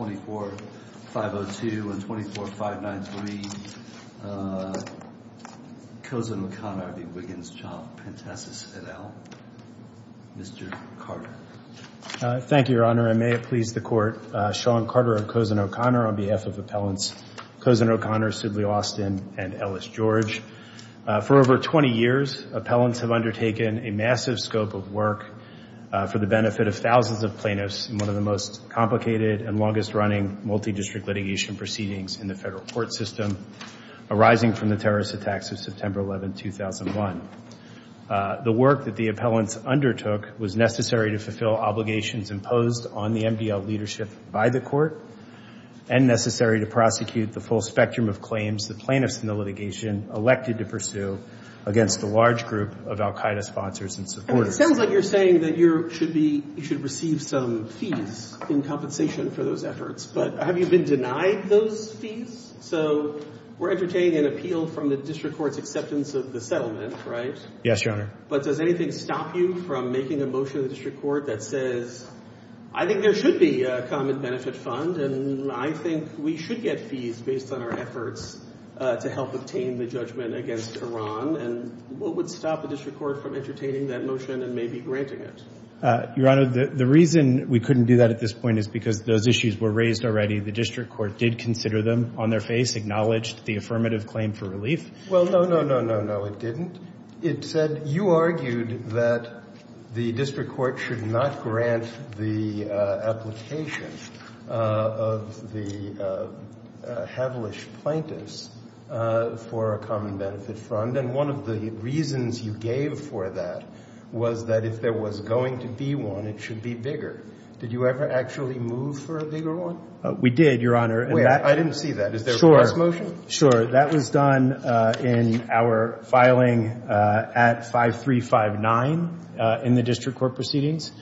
24-502 and 24-593 Kozin-O'Connor v. Wiggins, Chomp, Pentesis, et al. Mr. Carter. Thank you, Your Honor. And may it please the Court. Sean Carter of Kozin-O'Connor on behalf of appellants Kozin-O'Connor, Sidley Austin, and Ellis George. For over 20 years, appellants have undertaken a massive scope of work for the benefit of thousands of plaintiffs in one of the most complicated and longest-running multidistrict litigation proceedings in the federal court system, arising from the terrorist attacks of September 11, 2001. The work that the appellants undertook was necessary to fulfill obligations imposed on the MDL leadership by the Court and necessary to prosecute the full spectrum of claims the plaintiffs in the litigation elected to pursue against a large group of al-Qaeda sponsors and supporters. It sounds like you're saying that you should receive some fees in compensation for those efforts, but have you been denied those fees? So we're entertaining an appeal from the district court's acceptance of the settlement, right? Yes, Your Honor. But does anything stop you from making a motion to the district court that says, I think there should be a common benefit fund, and I think we should get fees based on our efforts to help obtain the judgment against Iran, and what would stop the district court from entertaining that motion and maybe granting it? Your Honor, the reason we couldn't do that at this point is because those issues were raised already. The district court did consider them on their face, acknowledged the affirmative claim for Well, no, no, no, no, no, it didn't. It said you argued that the district court should not grant the application of the Hevelish plaintiffs for a common benefit fund, and one of the reasons you gave for that was that if there was going to be one, it should be bigger. Did you ever actually move for a bigger one? We did, Your Honor. Wait, I didn't see that. Is there a cross-motion? Sure, sure. That was done in our filing at 5359 in the district court proceedings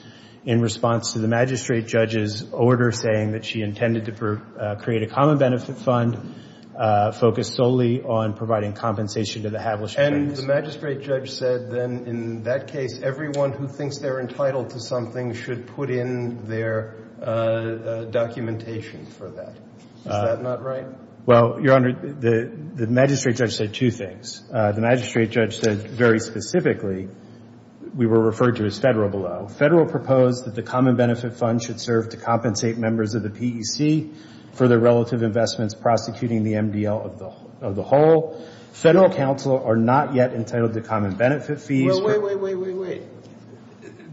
in response to the magistrate judge's order saying that she intended to create a common benefit fund focused solely on providing compensation to the Hevelish plaintiffs. And the magistrate judge said, then, in that case, everyone who thinks they're entitled to something should put in their documentation for that. Is that not right? Well, Your Honor, the magistrate judge said two things. The magistrate judge said, very specifically, we were referred to as federal below. Federal proposed that the common benefit fund should serve to compensate members of the PEC for their relative investments prosecuting the MDL of the whole. Federal counsel are not yet entitled to common benefit fees. Well, wait, wait, wait, wait, wait.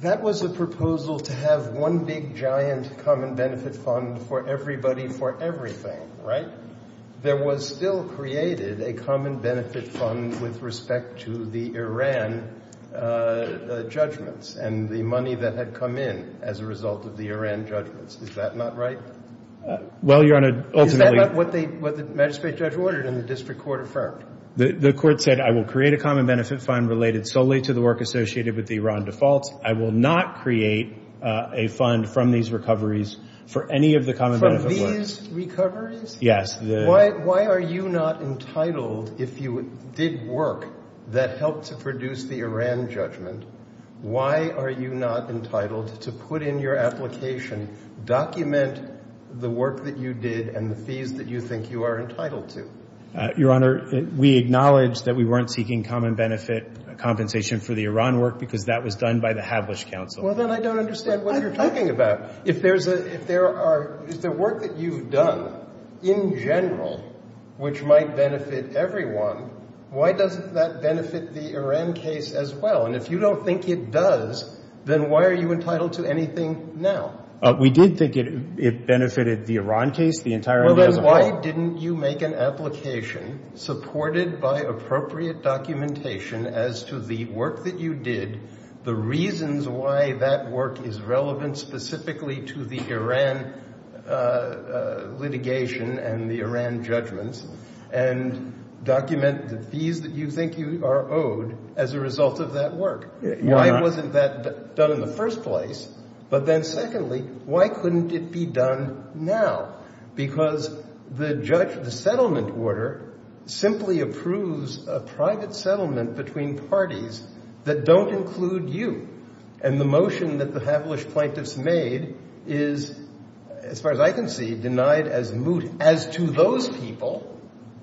That was a proposal to have one big, giant common benefit fund for everybody for everything, right? There was still created a common benefit fund with respect to the Iran judgments and the money that had come in as a result of the Iran judgments. Is that not right? Well, Your Honor, ultimately... Is that not what the magistrate judge ordered and the district court affirmed? The court said, I will create a common benefit fund related solely to the work associated with the Iran defaults. I will not create a fund from these recoveries for any of the common benefit funds. From these recoveries? Yes. Why are you not entitled, if you did work that helped to produce the Iran judgment, why are you not entitled to put in your application, document the work that you did and the fees that you think you are entitled to? Your Honor, we acknowledge that we weren't seeking common benefit compensation for the Iran work because that was done by the Hablish counsel. Well, then I don't understand what you're talking about. If there's a, if there are, if the work that you've done in general, which might benefit everyone, why doesn't that benefit the Iran case as well? And if you don't think it does, then why are you entitled to anything now? We did think it, it benefited the Iran case, the entire... Well, then why didn't you make an application supported by appropriate documentation as to the work that you did, the reasons why that work is relevant specifically to the Iran litigation and the Iran judgments, and document the fees that you think you are owed as a result of that work? Why wasn't that done in the first place? But then secondly, why couldn't it be done now? Because the judge, the settlement order simply approves a private settlement between parties that don't include you. And the motion that the Hablish plaintiffs made is, as far as I can see, denied as moot as to those people.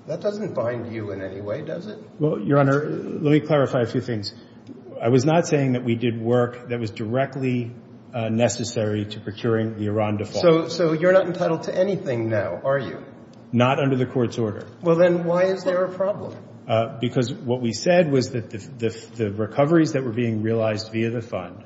That doesn't bind you in any way, does it? Well, Your Honor, let me clarify a few things. I was not saying that we did work that was directly necessary to procuring the Iran default. So you're not entitled to anything now, are you? Not under the court's order. Well, then why is there a problem? Because what we said was that the recoveries that were being realized via the fund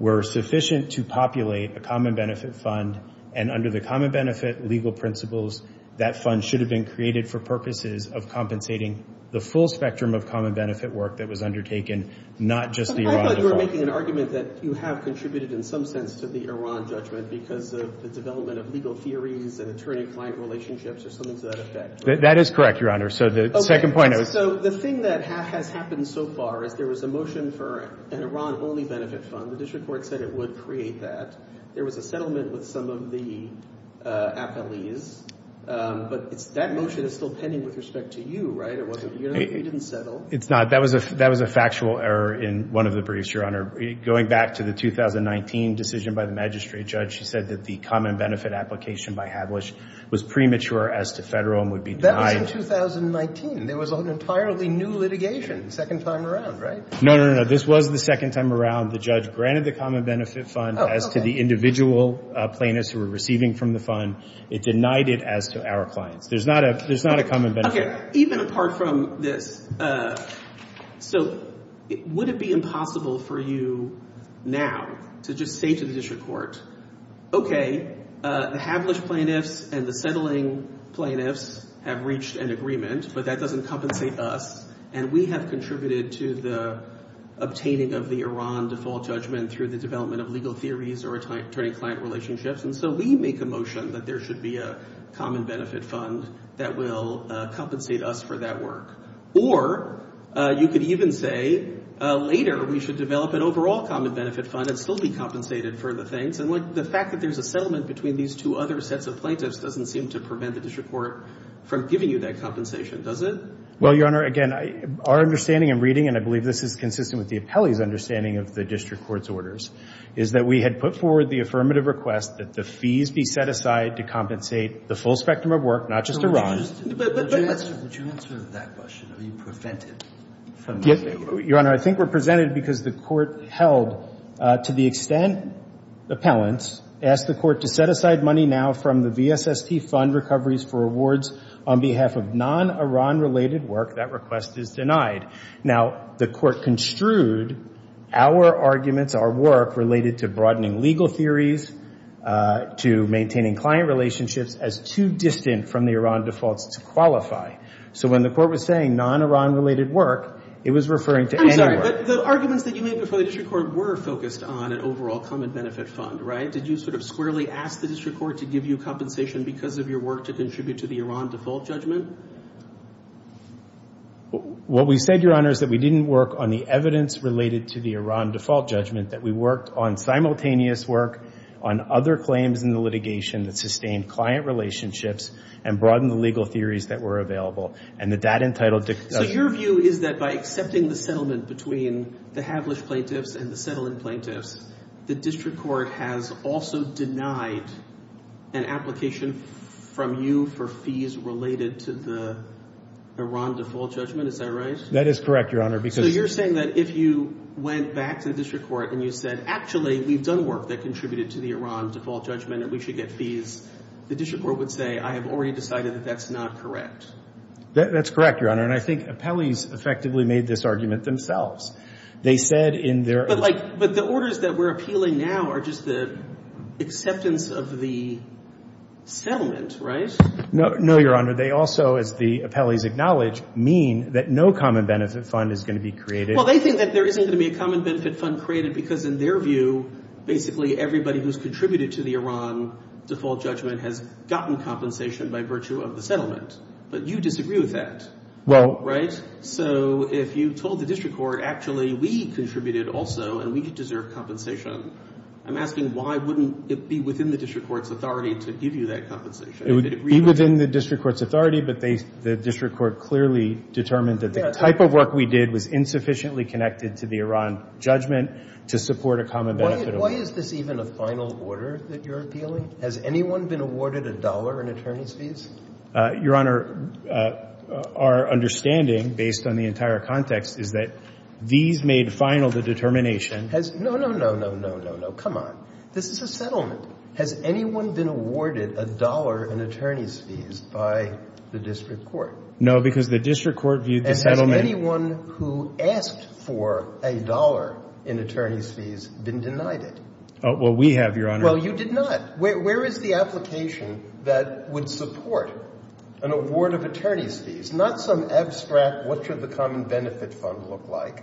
were sufficient to populate a common benefit fund. And under the common benefit legal principles, that fund should have been created for purposes of compensating the full spectrum of common benefit work that was undertaken, not just the Iran default. I thought you were making an argument that you have contributed in some sense to the Iran judgment because of the development of legal theories and attorney-client relationships or something to that effect. That is correct, Your Honor. So the second point I was... So the thing that has happened so far is there was a motion for an Iran-only benefit fund. The district court said it would create that. There was a settlement with some of the appellees. But that motion is still pending with respect to you, right? It wasn't... You didn't settle. It's not. That was a factual error in one of the briefs, Your Honor. Going back to the 2019 decision by the magistrate judge, she said that the common benefit application by Hadlisch was premature as to federal and would be denied. That was in 2019. There was an entirely new litigation, second time around, right? No, no, no. This was the second time around. The judge granted the common benefit fund as to the individual plaintiffs who were receiving from the fund. It denied it as to our clients. There's not a common benefit. Even apart from this, so would it be impossible for you now to just say to the district court, okay, the Hadlisch plaintiffs and the settling plaintiffs have reached an agreement, but that doesn't compensate us. And we have contributed to the obtaining of the Iran default judgment through the development of legal theories or attorney-client relationships. And so we make a motion that there should be a common benefit fund that will compensate us for that work. Or you could even say later we should develop an overall common benefit fund and still be compensated for the things. And the fact that there's a settlement between these two other sets of plaintiffs doesn't seem to prevent the district court from giving you that compensation, does it? Well, Your Honor, again, our understanding and reading, and I believe this is consistent with the appellee's understanding of the district court's orders, is that we had put forward the affirmative request that the fees be set aside to compensate the full spectrum of work, not just Iran. But would you answer that question? Are you prevented from doing that? Your Honor, I think we're presented because the court held to the extent appellants asked the court to set aside money now from the VSST fund recoveries for awards on behalf of non-Iran-related work, that request is denied. Now, the court construed our arguments, our work, related to broadening legal theories, to maintaining client relationships as too distant from the Iran defaults to qualify. So when the court was saying non-Iran-related work, it was referring to any work. I'm sorry, but the arguments that you made before the district court were focused on an overall common benefit fund, right? Did you sort of squarely ask the district court to give you compensation because of your work to contribute to the Iran default judgment? What we said, Your Honor, is that we didn't work on the evidence related to the Iran default judgment. That we worked on simultaneous work on other claims in the litigation that sustained client relationships and broadened the legal theories that were available. And that that entitled to- So your view is that by accepting the settlement between the Havelish plaintiffs and the Settlin plaintiffs, the district court has also denied an application from you for fees related to the Iran default judgment, is that right? That is correct, Your Honor, because- So you're saying that if you went back to the district court and you said, actually, we've done work that contributed to the Iran default judgment and we should get fees, the district court would say, I have already decided that that's not correct. That's correct, Your Honor. And I think appellees effectively made this argument themselves. They said in their- But like, but the orders that we're appealing now are just the acceptance of the settlement, right? No, Your Honor. They also, as the appellees acknowledge, mean that no common benefit fund is going to be created. Well, they think that there isn't going to be a common benefit fund created because in their view, basically, everybody who's contributed to the Iran default judgment has gotten compensation by virtue of the settlement. But you disagree with that, right? So if you told the district court, actually, we contributed also and we deserve compensation, I'm asking why wouldn't it be within the district court's authority to give you that compensation? It would be within the district court's authority, but the district court clearly determined that the type of work we did was insufficiently connected to the Iran judgment to support a common benefit. Why is this even a final order that you're appealing? Has anyone been awarded a dollar in attorney's fees? Your Honor, our understanding, based on the entire context, is that these made final the determination- No, no, no, no, no, no, no. Come on. This is a settlement. Has anyone been awarded a dollar in attorney's fees by the district court? No, because the district court viewed the settlement- And has anyone who asked for a dollar in attorney's fees been denied it? Oh, well, we have, Your Honor. Well, you did not. Where is the application that would support an award of attorney's fees? Not some abstract, what should the common benefit fund look like,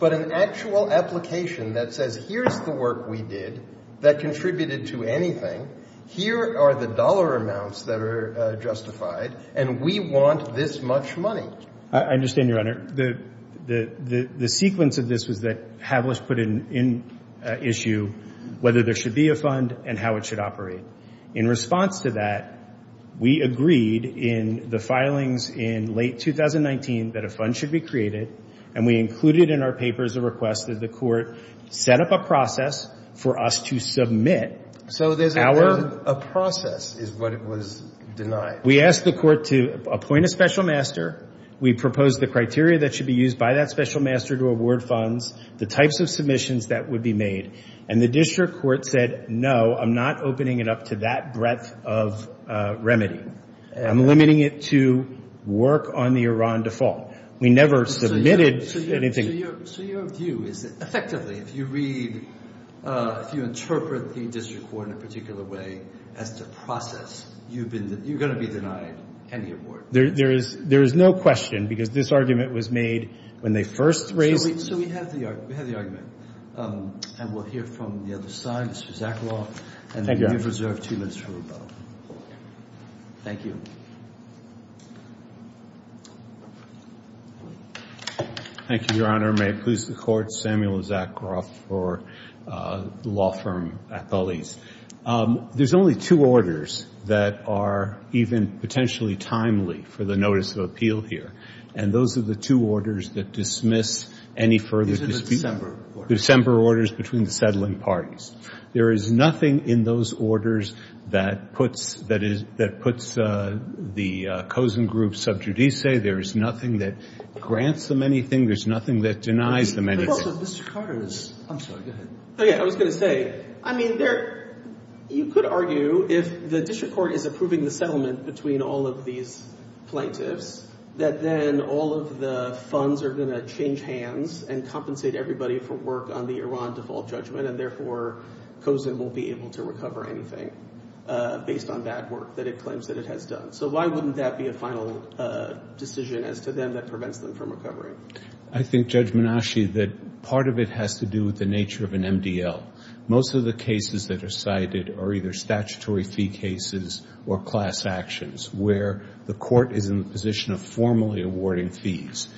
but an actual application that says, here's the work we did that contributed to anything. Here are the dollar amounts that are justified, and we want this much money. I understand, Your Honor. The sequence of this was that Havlisch put in issue whether there should be a fund and how it should operate. In response to that, we agreed in the filings in late 2019 that a fund should be created, and we included in our papers a request that the court set up a process for us to submit. So there's a process is what was denied. We asked the court to appoint a special master. We proposed the criteria that should be used by that special master to award funds, the types of submissions that would be made. And the district court said, no, I'm not opening it up to that breadth of remedy. I'm limiting it to work on the Iran default. We never submitted anything. So your view is that effectively, if you read, if you interpret the district court in a particular way as to process, you're going to be denied any award. There is no question, because this argument was made when they first raised... So we have the argument. And we'll hear from the other side, Mr. Zakharoff. Thank you, Your Honor. And you have reserved two minutes for rebuttal. Thank you. Thank you. Thank you, Your Honor. May it please the Court, Samuel Zakharoff for the law firm, Athalis. There's only two orders that are even potentially timely for the notice of appeal here. And those are the two orders that dismiss any further dispute. These are the December orders. December orders between the settling parties. There is nothing in those orders that puts the Kozen Group sub judice. As you say, there is nothing that grants them anything. There's nothing that denies them anything. But also, Mr. Carter is... I'm sorry. Go ahead. Oh, yeah. I was going to say, I mean, you could argue if the district court is approving the settlement between all of these plaintiffs, that then all of the funds are going to change hands and compensate everybody for work on the Iran default judgment. And therefore, Kozen won't be able to recover anything based on bad work that it claims that it has done. So why wouldn't that be a final decision as to them that prevents them from recovering? I think, Judge Menasche, that part of it has to do with the nature of an MDL. Most of the cases that are cited are either statutory fee cases or class actions where the court is in the position of formally awarding fees.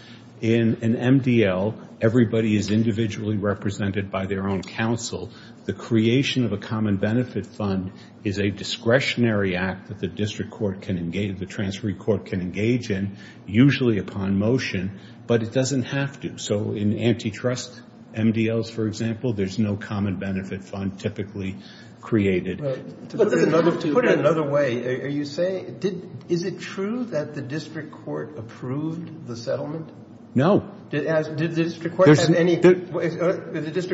In an MDL, everybody is individually represented by their own counsel. The creation of a common benefit fund is a discretionary act that the district court can engage, the transferee court can engage in, usually upon motion, but it doesn't have to. So in antitrust MDLs, for example, there's no common benefit fund typically created. To put it another way, are you saying, is it true that the district court approved the settlement? No. Did the district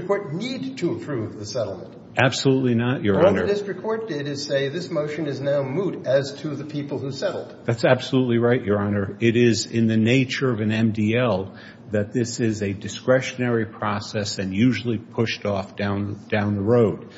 court need to approve the settlement? Absolutely not, Your Honor. What the district court did is say this motion is now moot as to the people who settled. That's absolutely right, Your Honor. It is in the nature of an MDL that this is a discretionary process and usually pushed off down the road.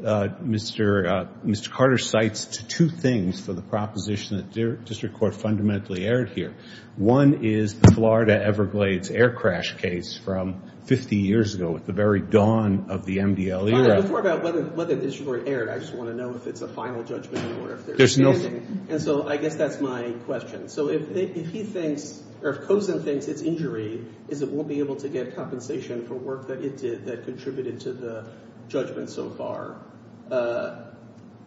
Mr. Carter cites two things for the proposition that the district court fundamentally aired here. One is the Florida Everglades air crash case from 50 years ago at the very dawn of the MDL era. Before I talk about whether the district court aired, I just want to know if it's a final judgment or if they're expanding. And so I guess that's my question. So if he thinks or if Cosen thinks its injury is it won't be able to get compensation for work that it did that contributed to the judgment so far,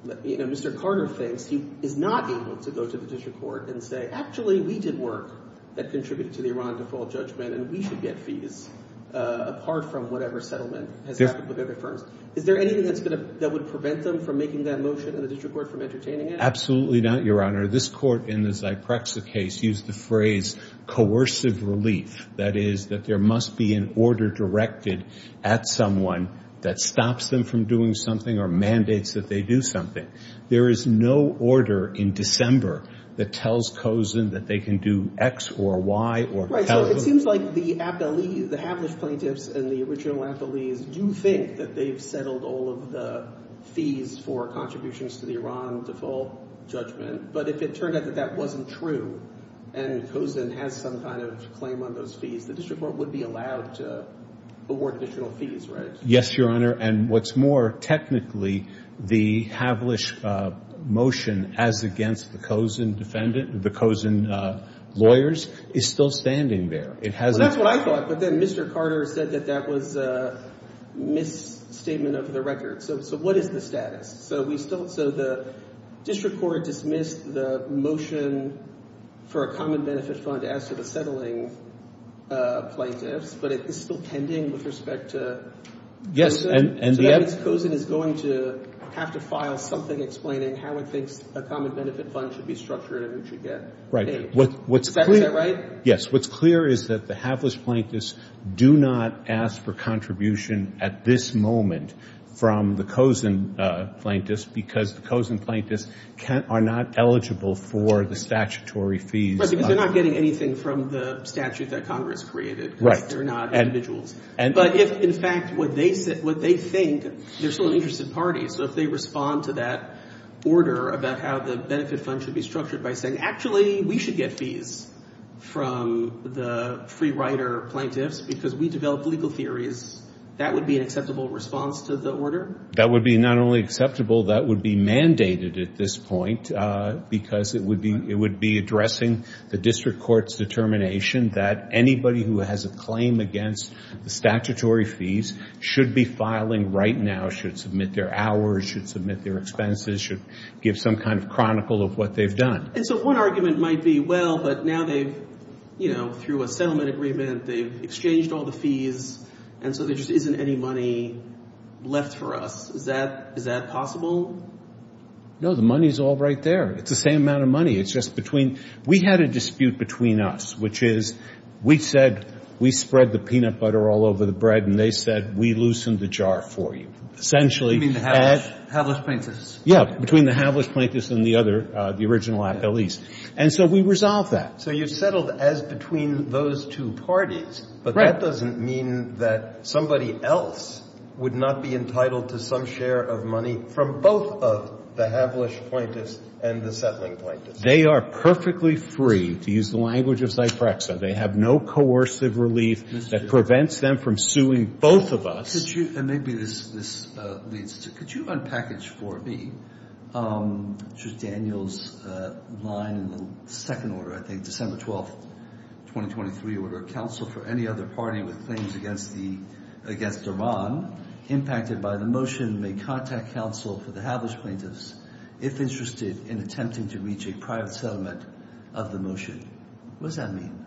Mr. Carter thinks he is not able to go to the district court and say actually we did work that contributed to the Iran default judgment and we should get fees apart from whatever settlement has happened with other firms. Is there anything that would prevent them from making that motion and the district court from entertaining it? Absolutely not, Your Honor. This court in the Zyprexa case used the phrase coercive relief. That is that there must be an order directed at someone that stops them from doing something or mandates that they do something. There is no order in December that tells Cosen that they can do X or Y. Right, so it seems like the appellees, the Havelish plaintiffs and the original appellees do think that they've settled all of the fees for contributions to the Iran default judgment. But if it turned out that that wasn't true and Cosen has some kind of claim on those fees, the district court would be allowed to award additional fees, right? Yes, Your Honor. And what's more, technically the Havelish motion as against the Cosen defendant, the Cosen lawyers, is still standing there. Well, that's what I thought, but then Mr. Carter said that that was a misstatement of the record. So what is the status? So the district court dismissed the motion for a common benefit fund as to the settling plaintiffs, but it is still pending with respect to Cosen? Yes. So that means Cosen is going to have to file something explaining how it thinks a common benefit fund should be structured and who should get paid. Right. Is that right? Yes. What's clear is that the Havelish plaintiffs do not ask for contribution at this moment from the Cosen plaintiffs because the Cosen plaintiffs are not eligible for the statutory fees. Right, because they're not getting anything from the statute that Congress created. Right. They're not individuals. But if, in fact, what they think, they're still an interested party, so if they respond to that order about how the benefit fund should be structured by saying, actually we should get fees from the free rider plaintiffs because we developed legal theories, that would be an acceptable response to the order? That would be not only acceptable, that would be mandated at this point because it would be addressing the district court's determination that anybody who has a claim against the statutory fees should be filing right now, should submit their hours, should submit their expenses, should give some kind of chronicle of what they've done. And so one argument might be, well, but now they've, you know, through a settlement agreement, they've exchanged all the fees, and so there just isn't any money left for us. Is that possible? No, the money's all right there. It's the same amount of money. It's just between we had a dispute between us, which is we said we spread the peanut butter all over the bread and they said we loosened the jar for you, essentially. You mean the havelish plaintiffs? Yeah, between the havelish plaintiffs and the other, the original appellees. And so we resolved that. So you settled as between those two parties. Right. But that doesn't mean that somebody else would not be entitled to some share of money from both of the havelish plaintiffs and the settling plaintiffs. They are perfectly free, to use the language of Zyprexa, they have no coercive relief that prevents them from suing both of us. Could you, and maybe this leads to, could you unpackage for me, which is Daniel's line in the second order, I think, December 12th, 2023, order of counsel for any other party with claims against the, against Iran, impacted by the motion may contact counsel for the havelish plaintiffs if interested in attempting to reach a private settlement of the motion. What does that mean?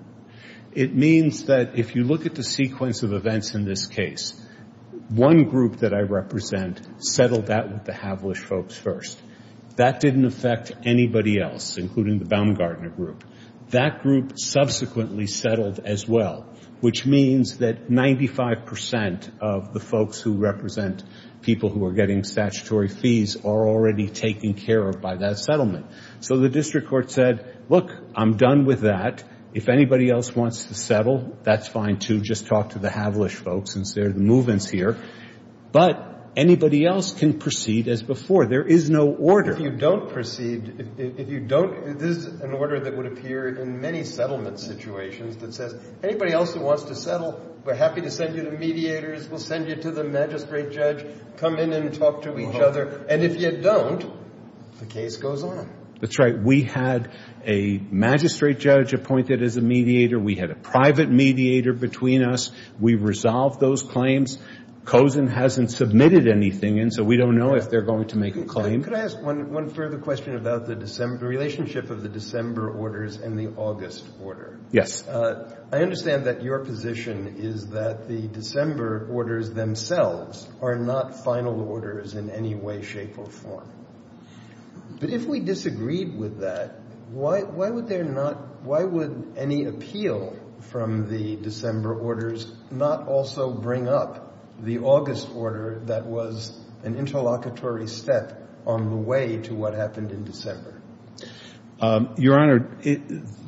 It means that if you look at the sequence of events in this case, one group that I represent settled that with the havelish folks first. That didn't affect anybody else, including the Baumgartner group. That group subsequently settled as well, which means that 95% of the folks who represent people who are getting statutory fees are already taken care of by that settlement. So the district court said, look, I'm done with that. If anybody else wants to settle, that's fine, too, just talk to the havelish folks since they're the movements here. But anybody else can proceed as before. There is no order. If you don't proceed, if you don't, this is an order that would appear in many settlement situations that says anybody else who wants to settle, we're happy to send you the mediators. We'll send you to the magistrate judge. Come in and talk to each other. And if you don't, the case goes on. That's right. We had a magistrate judge appointed as a mediator. We had a private mediator between us. We resolved those claims. COSEN hasn't submitted anything, and so we don't know if they're going to make a claim. Could I ask one further question about the relationship of the December orders and the August order? Yes. I understand that your position is that the December orders themselves are not final orders in any way, shape, or form. But if we disagreed with that, why would any appeal from the December orders not also bring up the August order that was an interlocutory step on the way to what happened in December? Your Honor,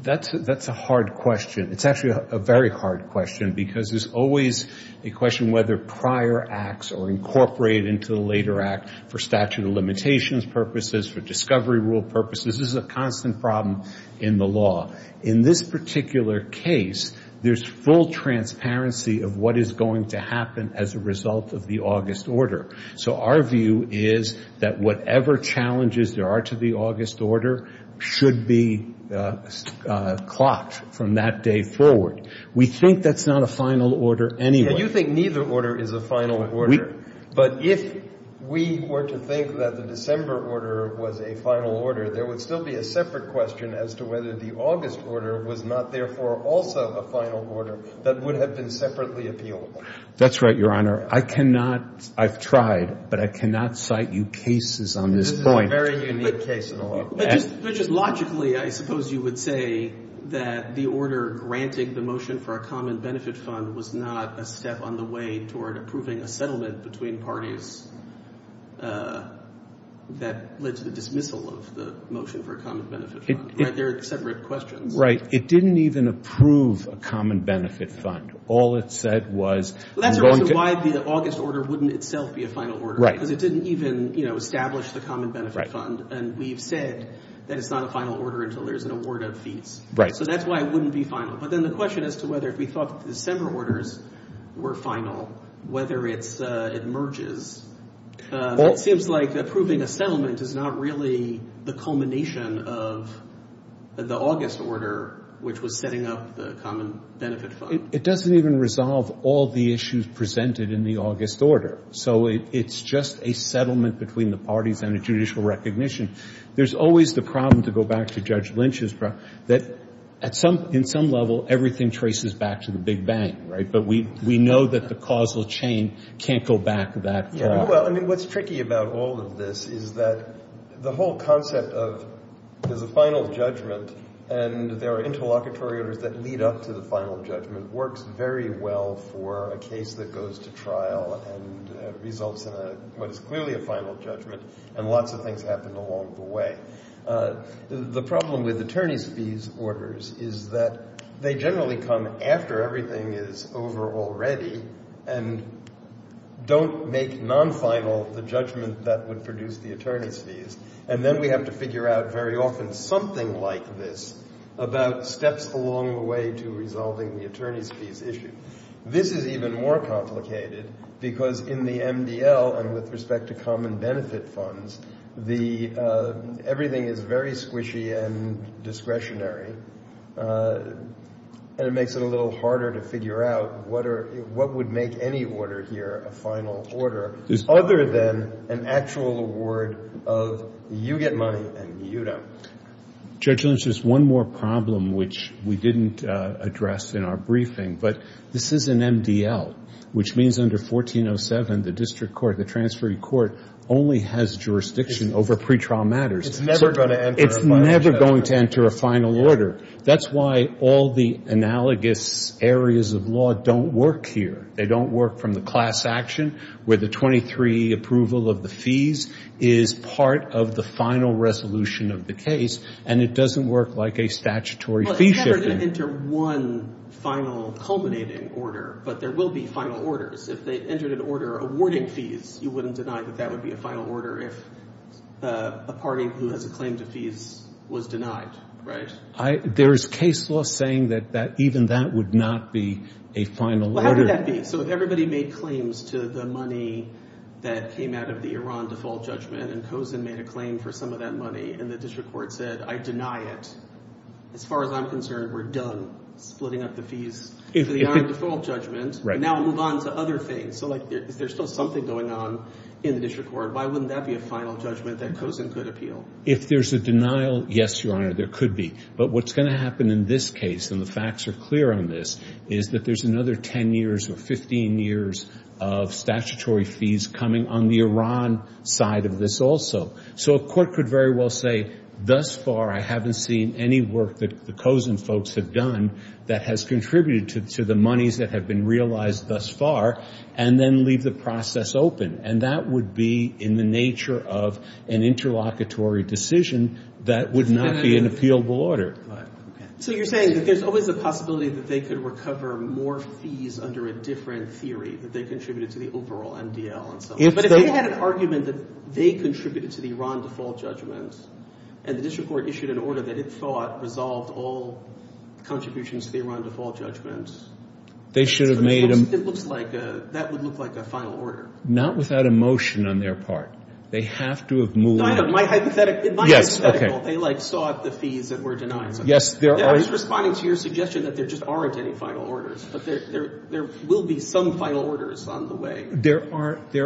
that's a hard question. It's actually a very hard question because there's always a question whether prior acts are incorporated into the later act for statute of limitations purposes, for discovery rule purposes. This is a constant problem in the law. In this particular case, there's full transparency of what is going to happen as a result of the August order. So our view is that whatever challenges there are to the August order should be clocked from that day forward. We think that's not a final order anyway. You think neither order is a final order. But if we were to think that the December order was a final order, there would still be a separate question as to whether the August order was not therefore also a final order that would have been separately appealable. That's right, Your Honor. I've tried, but I cannot cite you cases on this point. This is a very unique case in the law. But just logically, I suppose you would say that the order granting the motion for a common benefit fund was not a step on the way toward approving a settlement between parties that led to the dismissal of the motion for a common benefit fund. They're separate questions. Right. It didn't even approve a common benefit fund. All it said was Well, that's the reason why the August order wouldn't itself be a final order. Right. Because it didn't even establish the common benefit fund. Right. And we've said that it's not a final order until there's an award of fees. Right. So that's why it wouldn't be final. But then the question as to whether if we thought the December orders were final, whether it merges, it seems like approving a settlement is not really the culmination of the August order, which was setting up the common benefit fund. It doesn't even resolve all the issues presented in the August order. So it's just a settlement between the parties and a judicial recognition. There's always the problem, to go back to Judge Lynch's problem, that in some level, everything traces back to the Big Bang. Right. But we know that the causal chain can't go back that far. Well, I mean, what's tricky about all of this is that the whole concept of there's a final judgment and there are interlocutory orders that lead up to the final judgment works very well for a case that goes to trial and results in what is clearly a final judgment, and lots of things happen along the way. The problem with attorney's fees orders is that they generally come after everything is over already and don't make non-final the judgment that would produce the attorney's fees. And then we have to figure out very often something like this about steps along the way to resolving the attorney's fees issue. This is even more complicated because in the MDL and with respect to common benefit funds, everything is very squishy and discretionary, and it makes it a little harder to figure out what would make any order here a final order other than an actual award of you get money and you don't. Judge Lynch, there's one more problem which we didn't address in our briefing, but this is an MDL, which means under 1407 the district court, the transferring court, only has jurisdiction over pretrial matters. It's never going to enter a final judgment. It's never going to enter a final order. That's why all the analogous areas of law don't work here. They don't work from the class action where the 23 approval of the fees is part of the final resolution of the case and it doesn't work like a statutory fee shifting. Well, it's never going to enter one final culminating order, but there will be final orders. If they entered an order awarding fees, you wouldn't deny that that would be a final order if a party who has a claim to fees was denied, right? There is case law saying that even that would not be a final order. Where would that be? So if everybody made claims to the money that came out of the Iran default judgment and Cozen made a claim for some of that money and the district court said, I deny it, as far as I'm concerned, we're done splitting up the fees for the Iran default judgment. Now we move on to other things. So is there still something going on in the district court? Why wouldn't that be a final judgment that Cozen could appeal? If there's a denial, yes, Your Honor, there could be. But what's going to happen in this case, and the facts are clear on this, is that there's another 10 years or 15 years of statutory fees coming on the Iran side of this also. So a court could very well say, thus far I haven't seen any work that the Cozen folks have done that has contributed to the monies that have been realized thus far, and then leave the process open. And that would be in the nature of an interlocutory decision that would not be an appealable order. So you're saying that there's always a possibility that they could recover more fees under a different theory, that they contributed to the overall MDL and so on. But if they had an argument that they contributed to the Iran default judgments and the district court issued an order that it thought resolved all contributions to the Iran default judgments, it looks like that would look like a final order. Not without a motion on their part. They have to have moved. Yes, okay. Yes, there are. There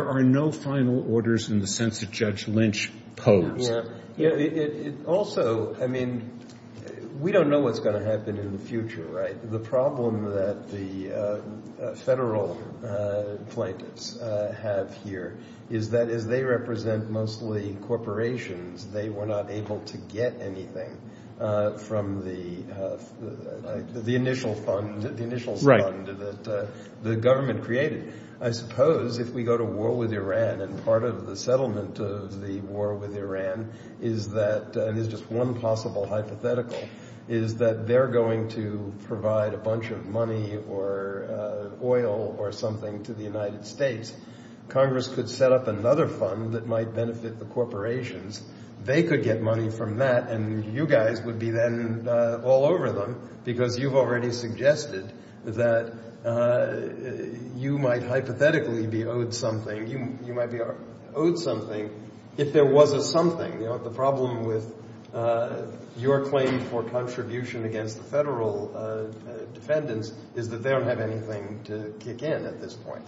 are no final orders in the sense that Judge Lynch posed. Also, I mean, we don't know what's going to happen in the future, right? The problem that the federal plaintiffs have here is that as they represent mostly corporations, they were not able to get anything from the initial fund that the government created. I suppose if we go to war with Iran and part of the settlement of the war with Iran is that, and there's just one possible hypothetical, is that they're going to provide a bunch of money or oil or something to the United States. Congress could set up another fund that might benefit the corporations. They could get money from that, and you guys would be then all over them because you've already suggested that you might hypothetically be owed something. You might be owed something if there was a something. The problem with your claim for contribution against the federal defendants is that they don't have anything to kick in at this point.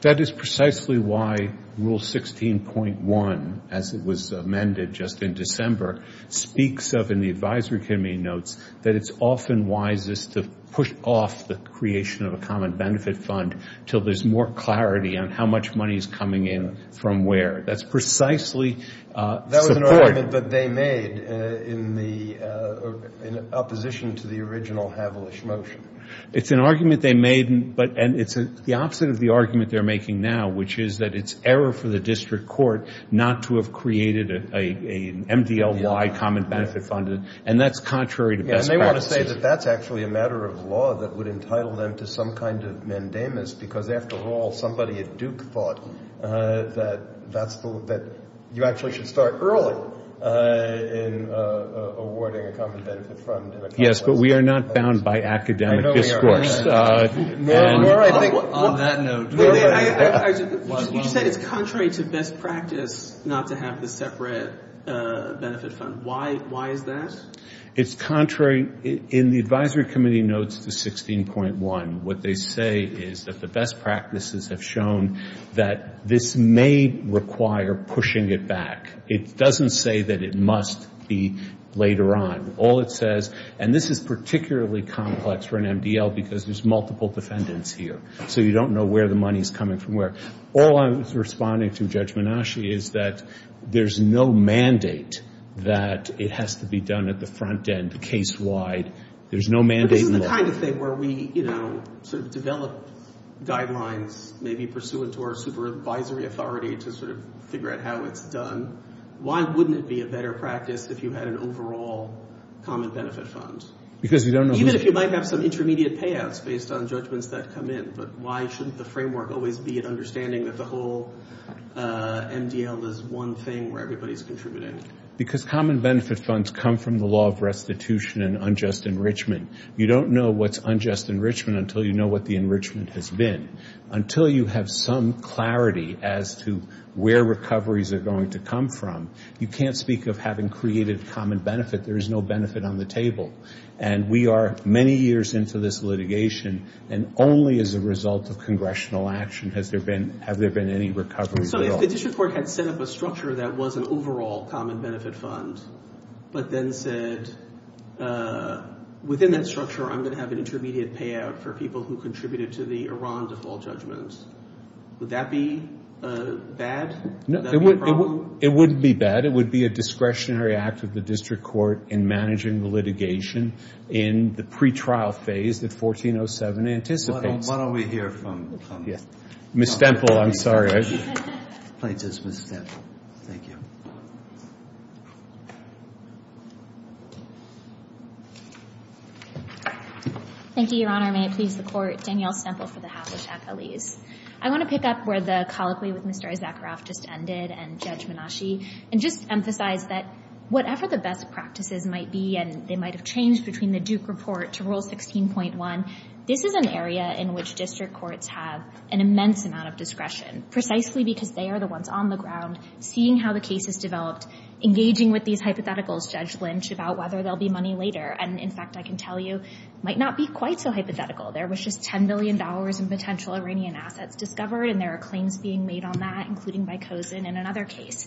That is precisely why Rule 16.1, as it was amended just in December, speaks of in the advisory committee notes that it's often wisest to push off the creation of a common benefit fund until there's more clarity on how much money is coming in from where. That's precisely support. That was an argument that they made in opposition to the original Havelish motion. It's an argument they made, and it's the opposite of the argument they're making now, which is that it's error for the district court not to have created an MDLY, common benefit fund, and that's contrary to best practices. And they want to say that that's actually a matter of law that would entitle them to some kind of mandamus because, after all, somebody at Duke thought that you actually should start early in awarding a common benefit fund. Yes, but we are not bound by academic discourse. On that note. You said it's contrary to best practice not to have the separate benefit fund. Why is that? It's contrary. In the advisory committee notes to 16.1, what they say is that the best practices have shown that this may require pushing it back. It doesn't say that it must be later on. All it says, and this is particularly complex for an MDL because there's multiple defendants here, so you don't know where the money is coming from where. All I'm responding to, Judge Menasci, is that there's no mandate that it has to be done at the front end case-wide. There's no mandate in law. It's the kind of thing where we sort of develop guidelines, maybe pursuant to our supervisory authority to sort of figure out how it's done. Why wouldn't it be a better practice if you had an overall common benefit fund? Even if you might have some intermediate payouts based on judgments that come in, but why shouldn't the framework always be an understanding that the whole MDL is one thing where everybody's contributing? Because common benefit funds come from the law of restitution and unjust enrichment. You don't know what's unjust enrichment until you know what the enrichment has been. Until you have some clarity as to where recoveries are going to come from, you can't speak of having created common benefit. There is no benefit on the table. And we are many years into this litigation, and only as a result of congressional action have there been any recoveries at all. If the district court had set up a structure that was an overall common benefit fund, but then said within that structure I'm going to have an intermediate payout for people who contributed to the Iran default judgment, would that be bad? It wouldn't be bad. It would be a discretionary act of the district court in managing the litigation in the pretrial phase that 1407 anticipates. Why don't we hear from Ms. Stemple? I'm sorry. Please, Ms. Stemple. Thank you. Thank you, Your Honor. May it please the court. Danielle Stemple for the Havlicek-Alis. I want to pick up where the colloquy with Mr. Issacharoff just ended and Judge Menasche, and just emphasize that whatever the best practices might be, and they might have changed between the Duke report to Rule 16.1, this is an area in which district courts have an immense amount of discretion, precisely because they are the ones on the ground seeing how the case is developed, engaging with these hypotheticals, Judge Lynch, about whether there will be money later. And, in fact, I can tell you it might not be quite so hypothetical. There was just $10 billion in potential Iranian assets discovered, and there are claims being made on that, including by Cozen in another case.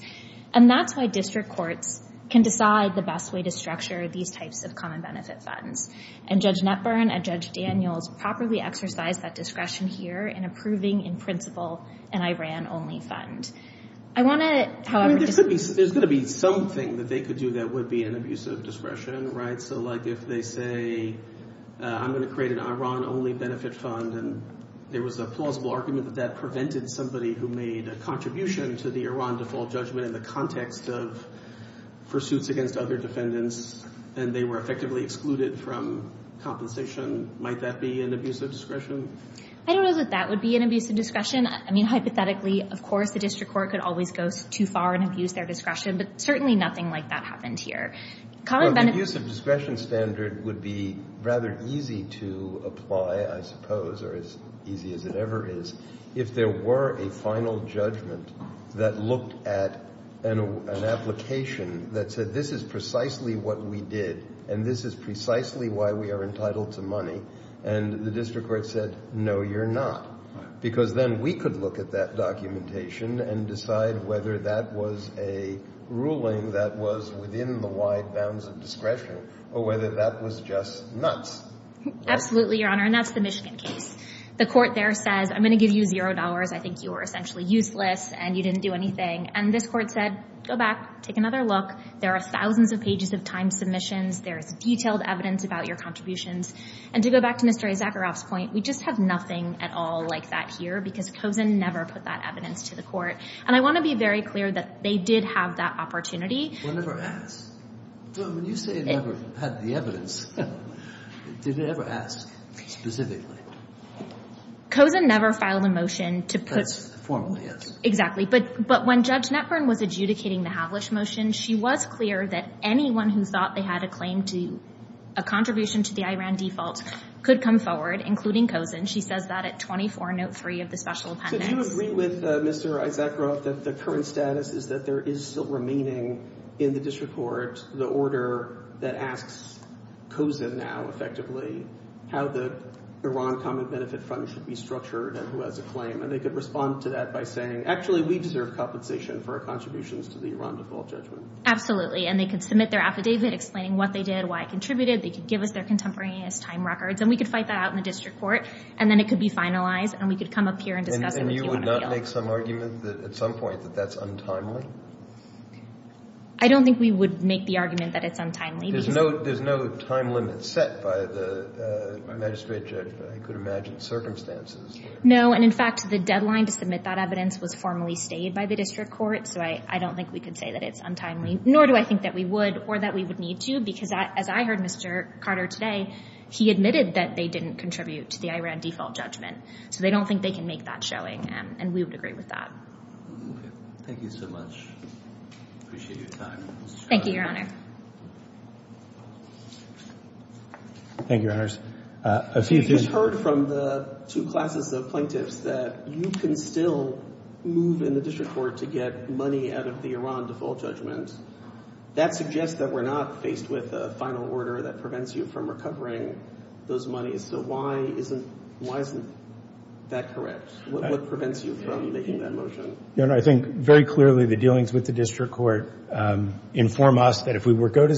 And that's why district courts can decide the best way to structure these types of common benefit funds. And Judge Netburn and Judge Daniels properly exercise that discretion here in approving, in principle, an Iran-only fund. I want to, however— I mean, there's going to be something that they could do that would be an abuse of discretion, right? So, like, if they say, I'm going to create an Iran-only benefit fund, and there was a plausible argument that that prevented somebody who made a contribution to the Iran default judgment in the context of pursuits against other defendants, and they were effectively excluded from compensation, might that be an abuse of discretion? I don't know that that would be an abuse of discretion. I mean, hypothetically, of course, the district court could always go too far and abuse their discretion, but certainly nothing like that happened here. Common benefit— Well, the abuse of discretion standard would be rather easy to apply, I suppose, or as easy as it ever is, if there were a final judgment that looked at an application that said, this is precisely what we did, and this is precisely why we are entitled to money, and the district court said, no, you're not, because then we could look at that documentation and decide whether that was a ruling that was within the wide bounds of discretion or whether that was just nuts. Absolutely, Your Honor, and that's the Michigan case. The court there says, I'm going to give you $0. I think you were essentially useless, and you didn't do anything, and this court said, go back, take another look. There are thousands of pages of time submissions. There is detailed evidence about your contributions, and to go back to Mr. Issacharoff's point, we just have nothing at all like that here because Cozen never put that evidence to the court, and I want to be very clear that they did have that opportunity. It was never asked. When you say it never had the evidence, did it ever ask specifically? Cozen never filed a motion to put— That's formal, yes. Exactly, but when Judge Netburn was adjudicating the Havlisch motion, she was clear that anyone who thought they had a claim to a contribution to the Iran default could come forward, including Cozen. She says that at 24.03 of the special appendix. So do you agree with Mr. Issacharoff that the current status is that there is still remaining in the district court the order that asks Cozen now, effectively, how the Iran Common Benefit Fund should be structured and who has a claim, and they could respond to that by saying, actually, we deserve compensation for our contributions to the Iran default judgment? Absolutely, and they could submit their affidavit explaining what they did, why it contributed. They could give us their contemporaneous time records, and we could fight that out in the district court, and then it could be finalized, and we could come up here and discuss it with you on appeal. And you would not make some argument at some point that that's untimely? I don't think we would make the argument that it's untimely because— There's no time limit set by the magistrate judge, I could imagine, circumstances. No, and, in fact, the deadline to submit that evidence was formally stayed by the district court, so I don't think we could say that it's untimely, nor do I think that we would or that we would need to because, as I heard Mr. Carter today, he admitted that they didn't contribute to the Iran default judgment. So they don't think they can make that showing, and we would agree with that. Thank you so much. I appreciate your time. Thank you, Your Honor. Thank you, Your Honors. I just heard from the two classes of plaintiffs that you can still move in the district court to get money out of the Iran default judgment. That suggests that we're not faced with a final order that prevents you from recovering those monies. So why isn't that correct? What prevents you from making that motion? Your Honor, I think very clearly the dealings with the district court inform us that if we were to go to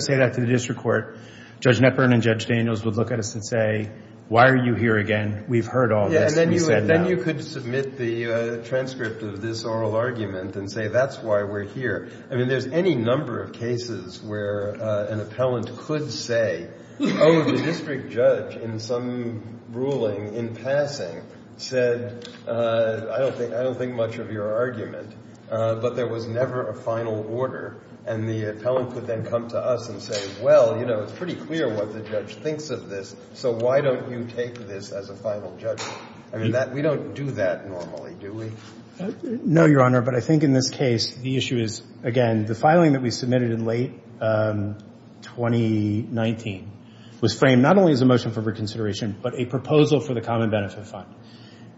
say that to the district court, Judge Knepper and Judge Daniels would look at us and say, why are you here again? We've heard all this. Then you could submit the transcript of this oral argument and say that's why we're here. I mean there's any number of cases where an appellant could say, oh, the district judge in some ruling in passing said, I don't think much of your argument, but there was never a final order. And the appellant could then come to us and say, well, it's pretty clear what the judge thinks of this, so why don't you take this as a final judgment? I mean we don't do that normally, do we? No, Your Honor, but I think in this case the issue is, again, the filing that we submitted in late 2019 was framed not only as a motion for reconsideration, but a proposal for the Common Benefit Fund.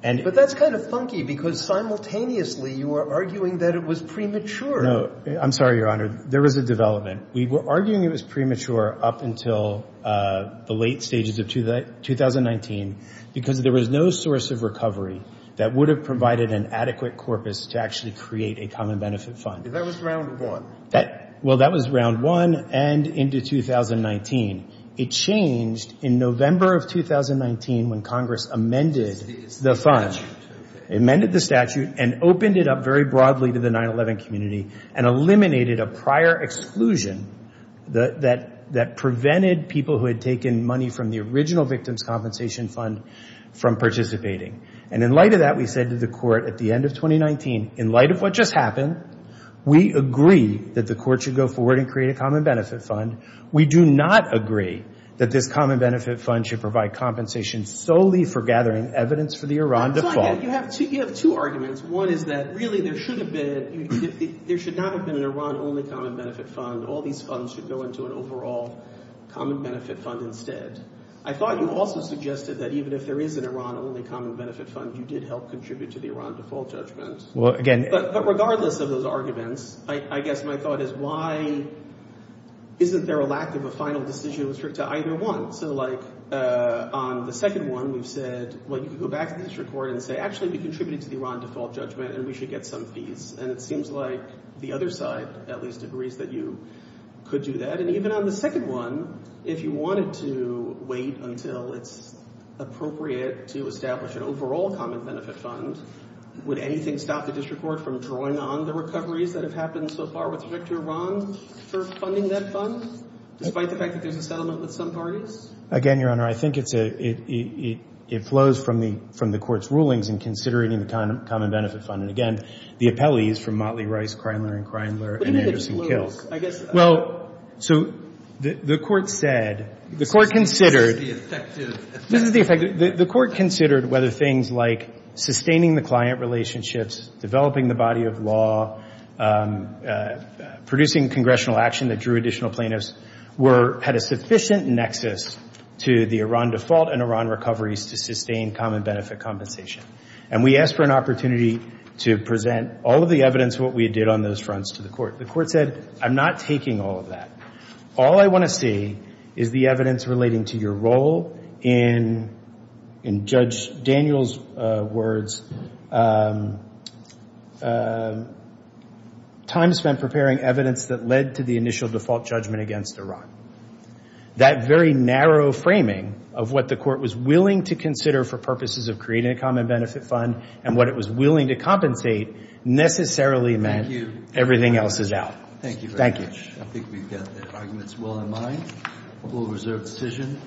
But that's kind of funky because simultaneously you are arguing that it was premature. No, I'm sorry, Your Honor. There was a development. We were arguing it was premature up until the late stages of 2019 because there was no source of recovery that would have provided an adequate corpus to actually create a Common Benefit Fund. That was round one. Well, that was round one and into 2019. It changed in November of 2019 when Congress amended the fund, amended the statute, and opened it up very broadly to the 9-11 community and eliminated a prior exclusion that prevented people who had taken money from the original Victims' Compensation Fund from participating. And in light of that, we said to the Court at the end of 2019, in light of what just happened, we agree that the Court should go forward and create a Common Benefit Fund. We do not agree that this Common Benefit Fund should provide compensation solely for gathering evidence for the Iran default. You have two arguments. One is that really there should not have been an Iran-only Common Benefit Fund. All these funds should go into an overall Common Benefit Fund instead. I thought you also suggested that even if there is an Iran-only Common Benefit Fund, you did help contribute to the Iran default judgment. But regardless of those arguments, I guess my thought is why isn't there a lack of a final decision to restrict to either one? So like on the second one, we've said, well, you can go back to the district court and say actually we contributed to the Iran default judgment and we should get some fees. And it seems like the other side at least agrees that you could do that. And even on the second one, if you wanted to wait until it's appropriate to establish an overall Common Benefit Fund, would anything stop the district court from drawing on the recoveries that have happened so far with respect to Iran for funding that fund, despite the fact that there's a settlement with some parties? Again, Your Honor, I think it's a — it flows from the Court's rulings in considering the Common Benefit Fund. And again, the appellee is from Motley, Rice, Kreindler & Kreindler and Anderson-Kill. But even if it flows, I guess — Well, so the Court said — This is the effective — The Court considered whether things like sustaining the client relationships, developing the body of law, producing congressional action that drew additional plaintiffs, had a sufficient nexus to the Iran default and Iran recoveries to sustain common benefit compensation. And we asked for an opportunity to present all of the evidence, what we did on those fronts, to the Court. The Court said, I'm not taking all of that. All I want to see is the evidence relating to your role in, in Judge Daniel's words, time spent preparing evidence that led to the initial default judgment against Iran. That very narrow framing of what the Court was willing to consider for purposes of creating a Common Benefit Fund and what it was willing to compensate necessarily meant everything else is out. Thank you very much. I think we've got the arguments well in mind. We'll reserve the decision.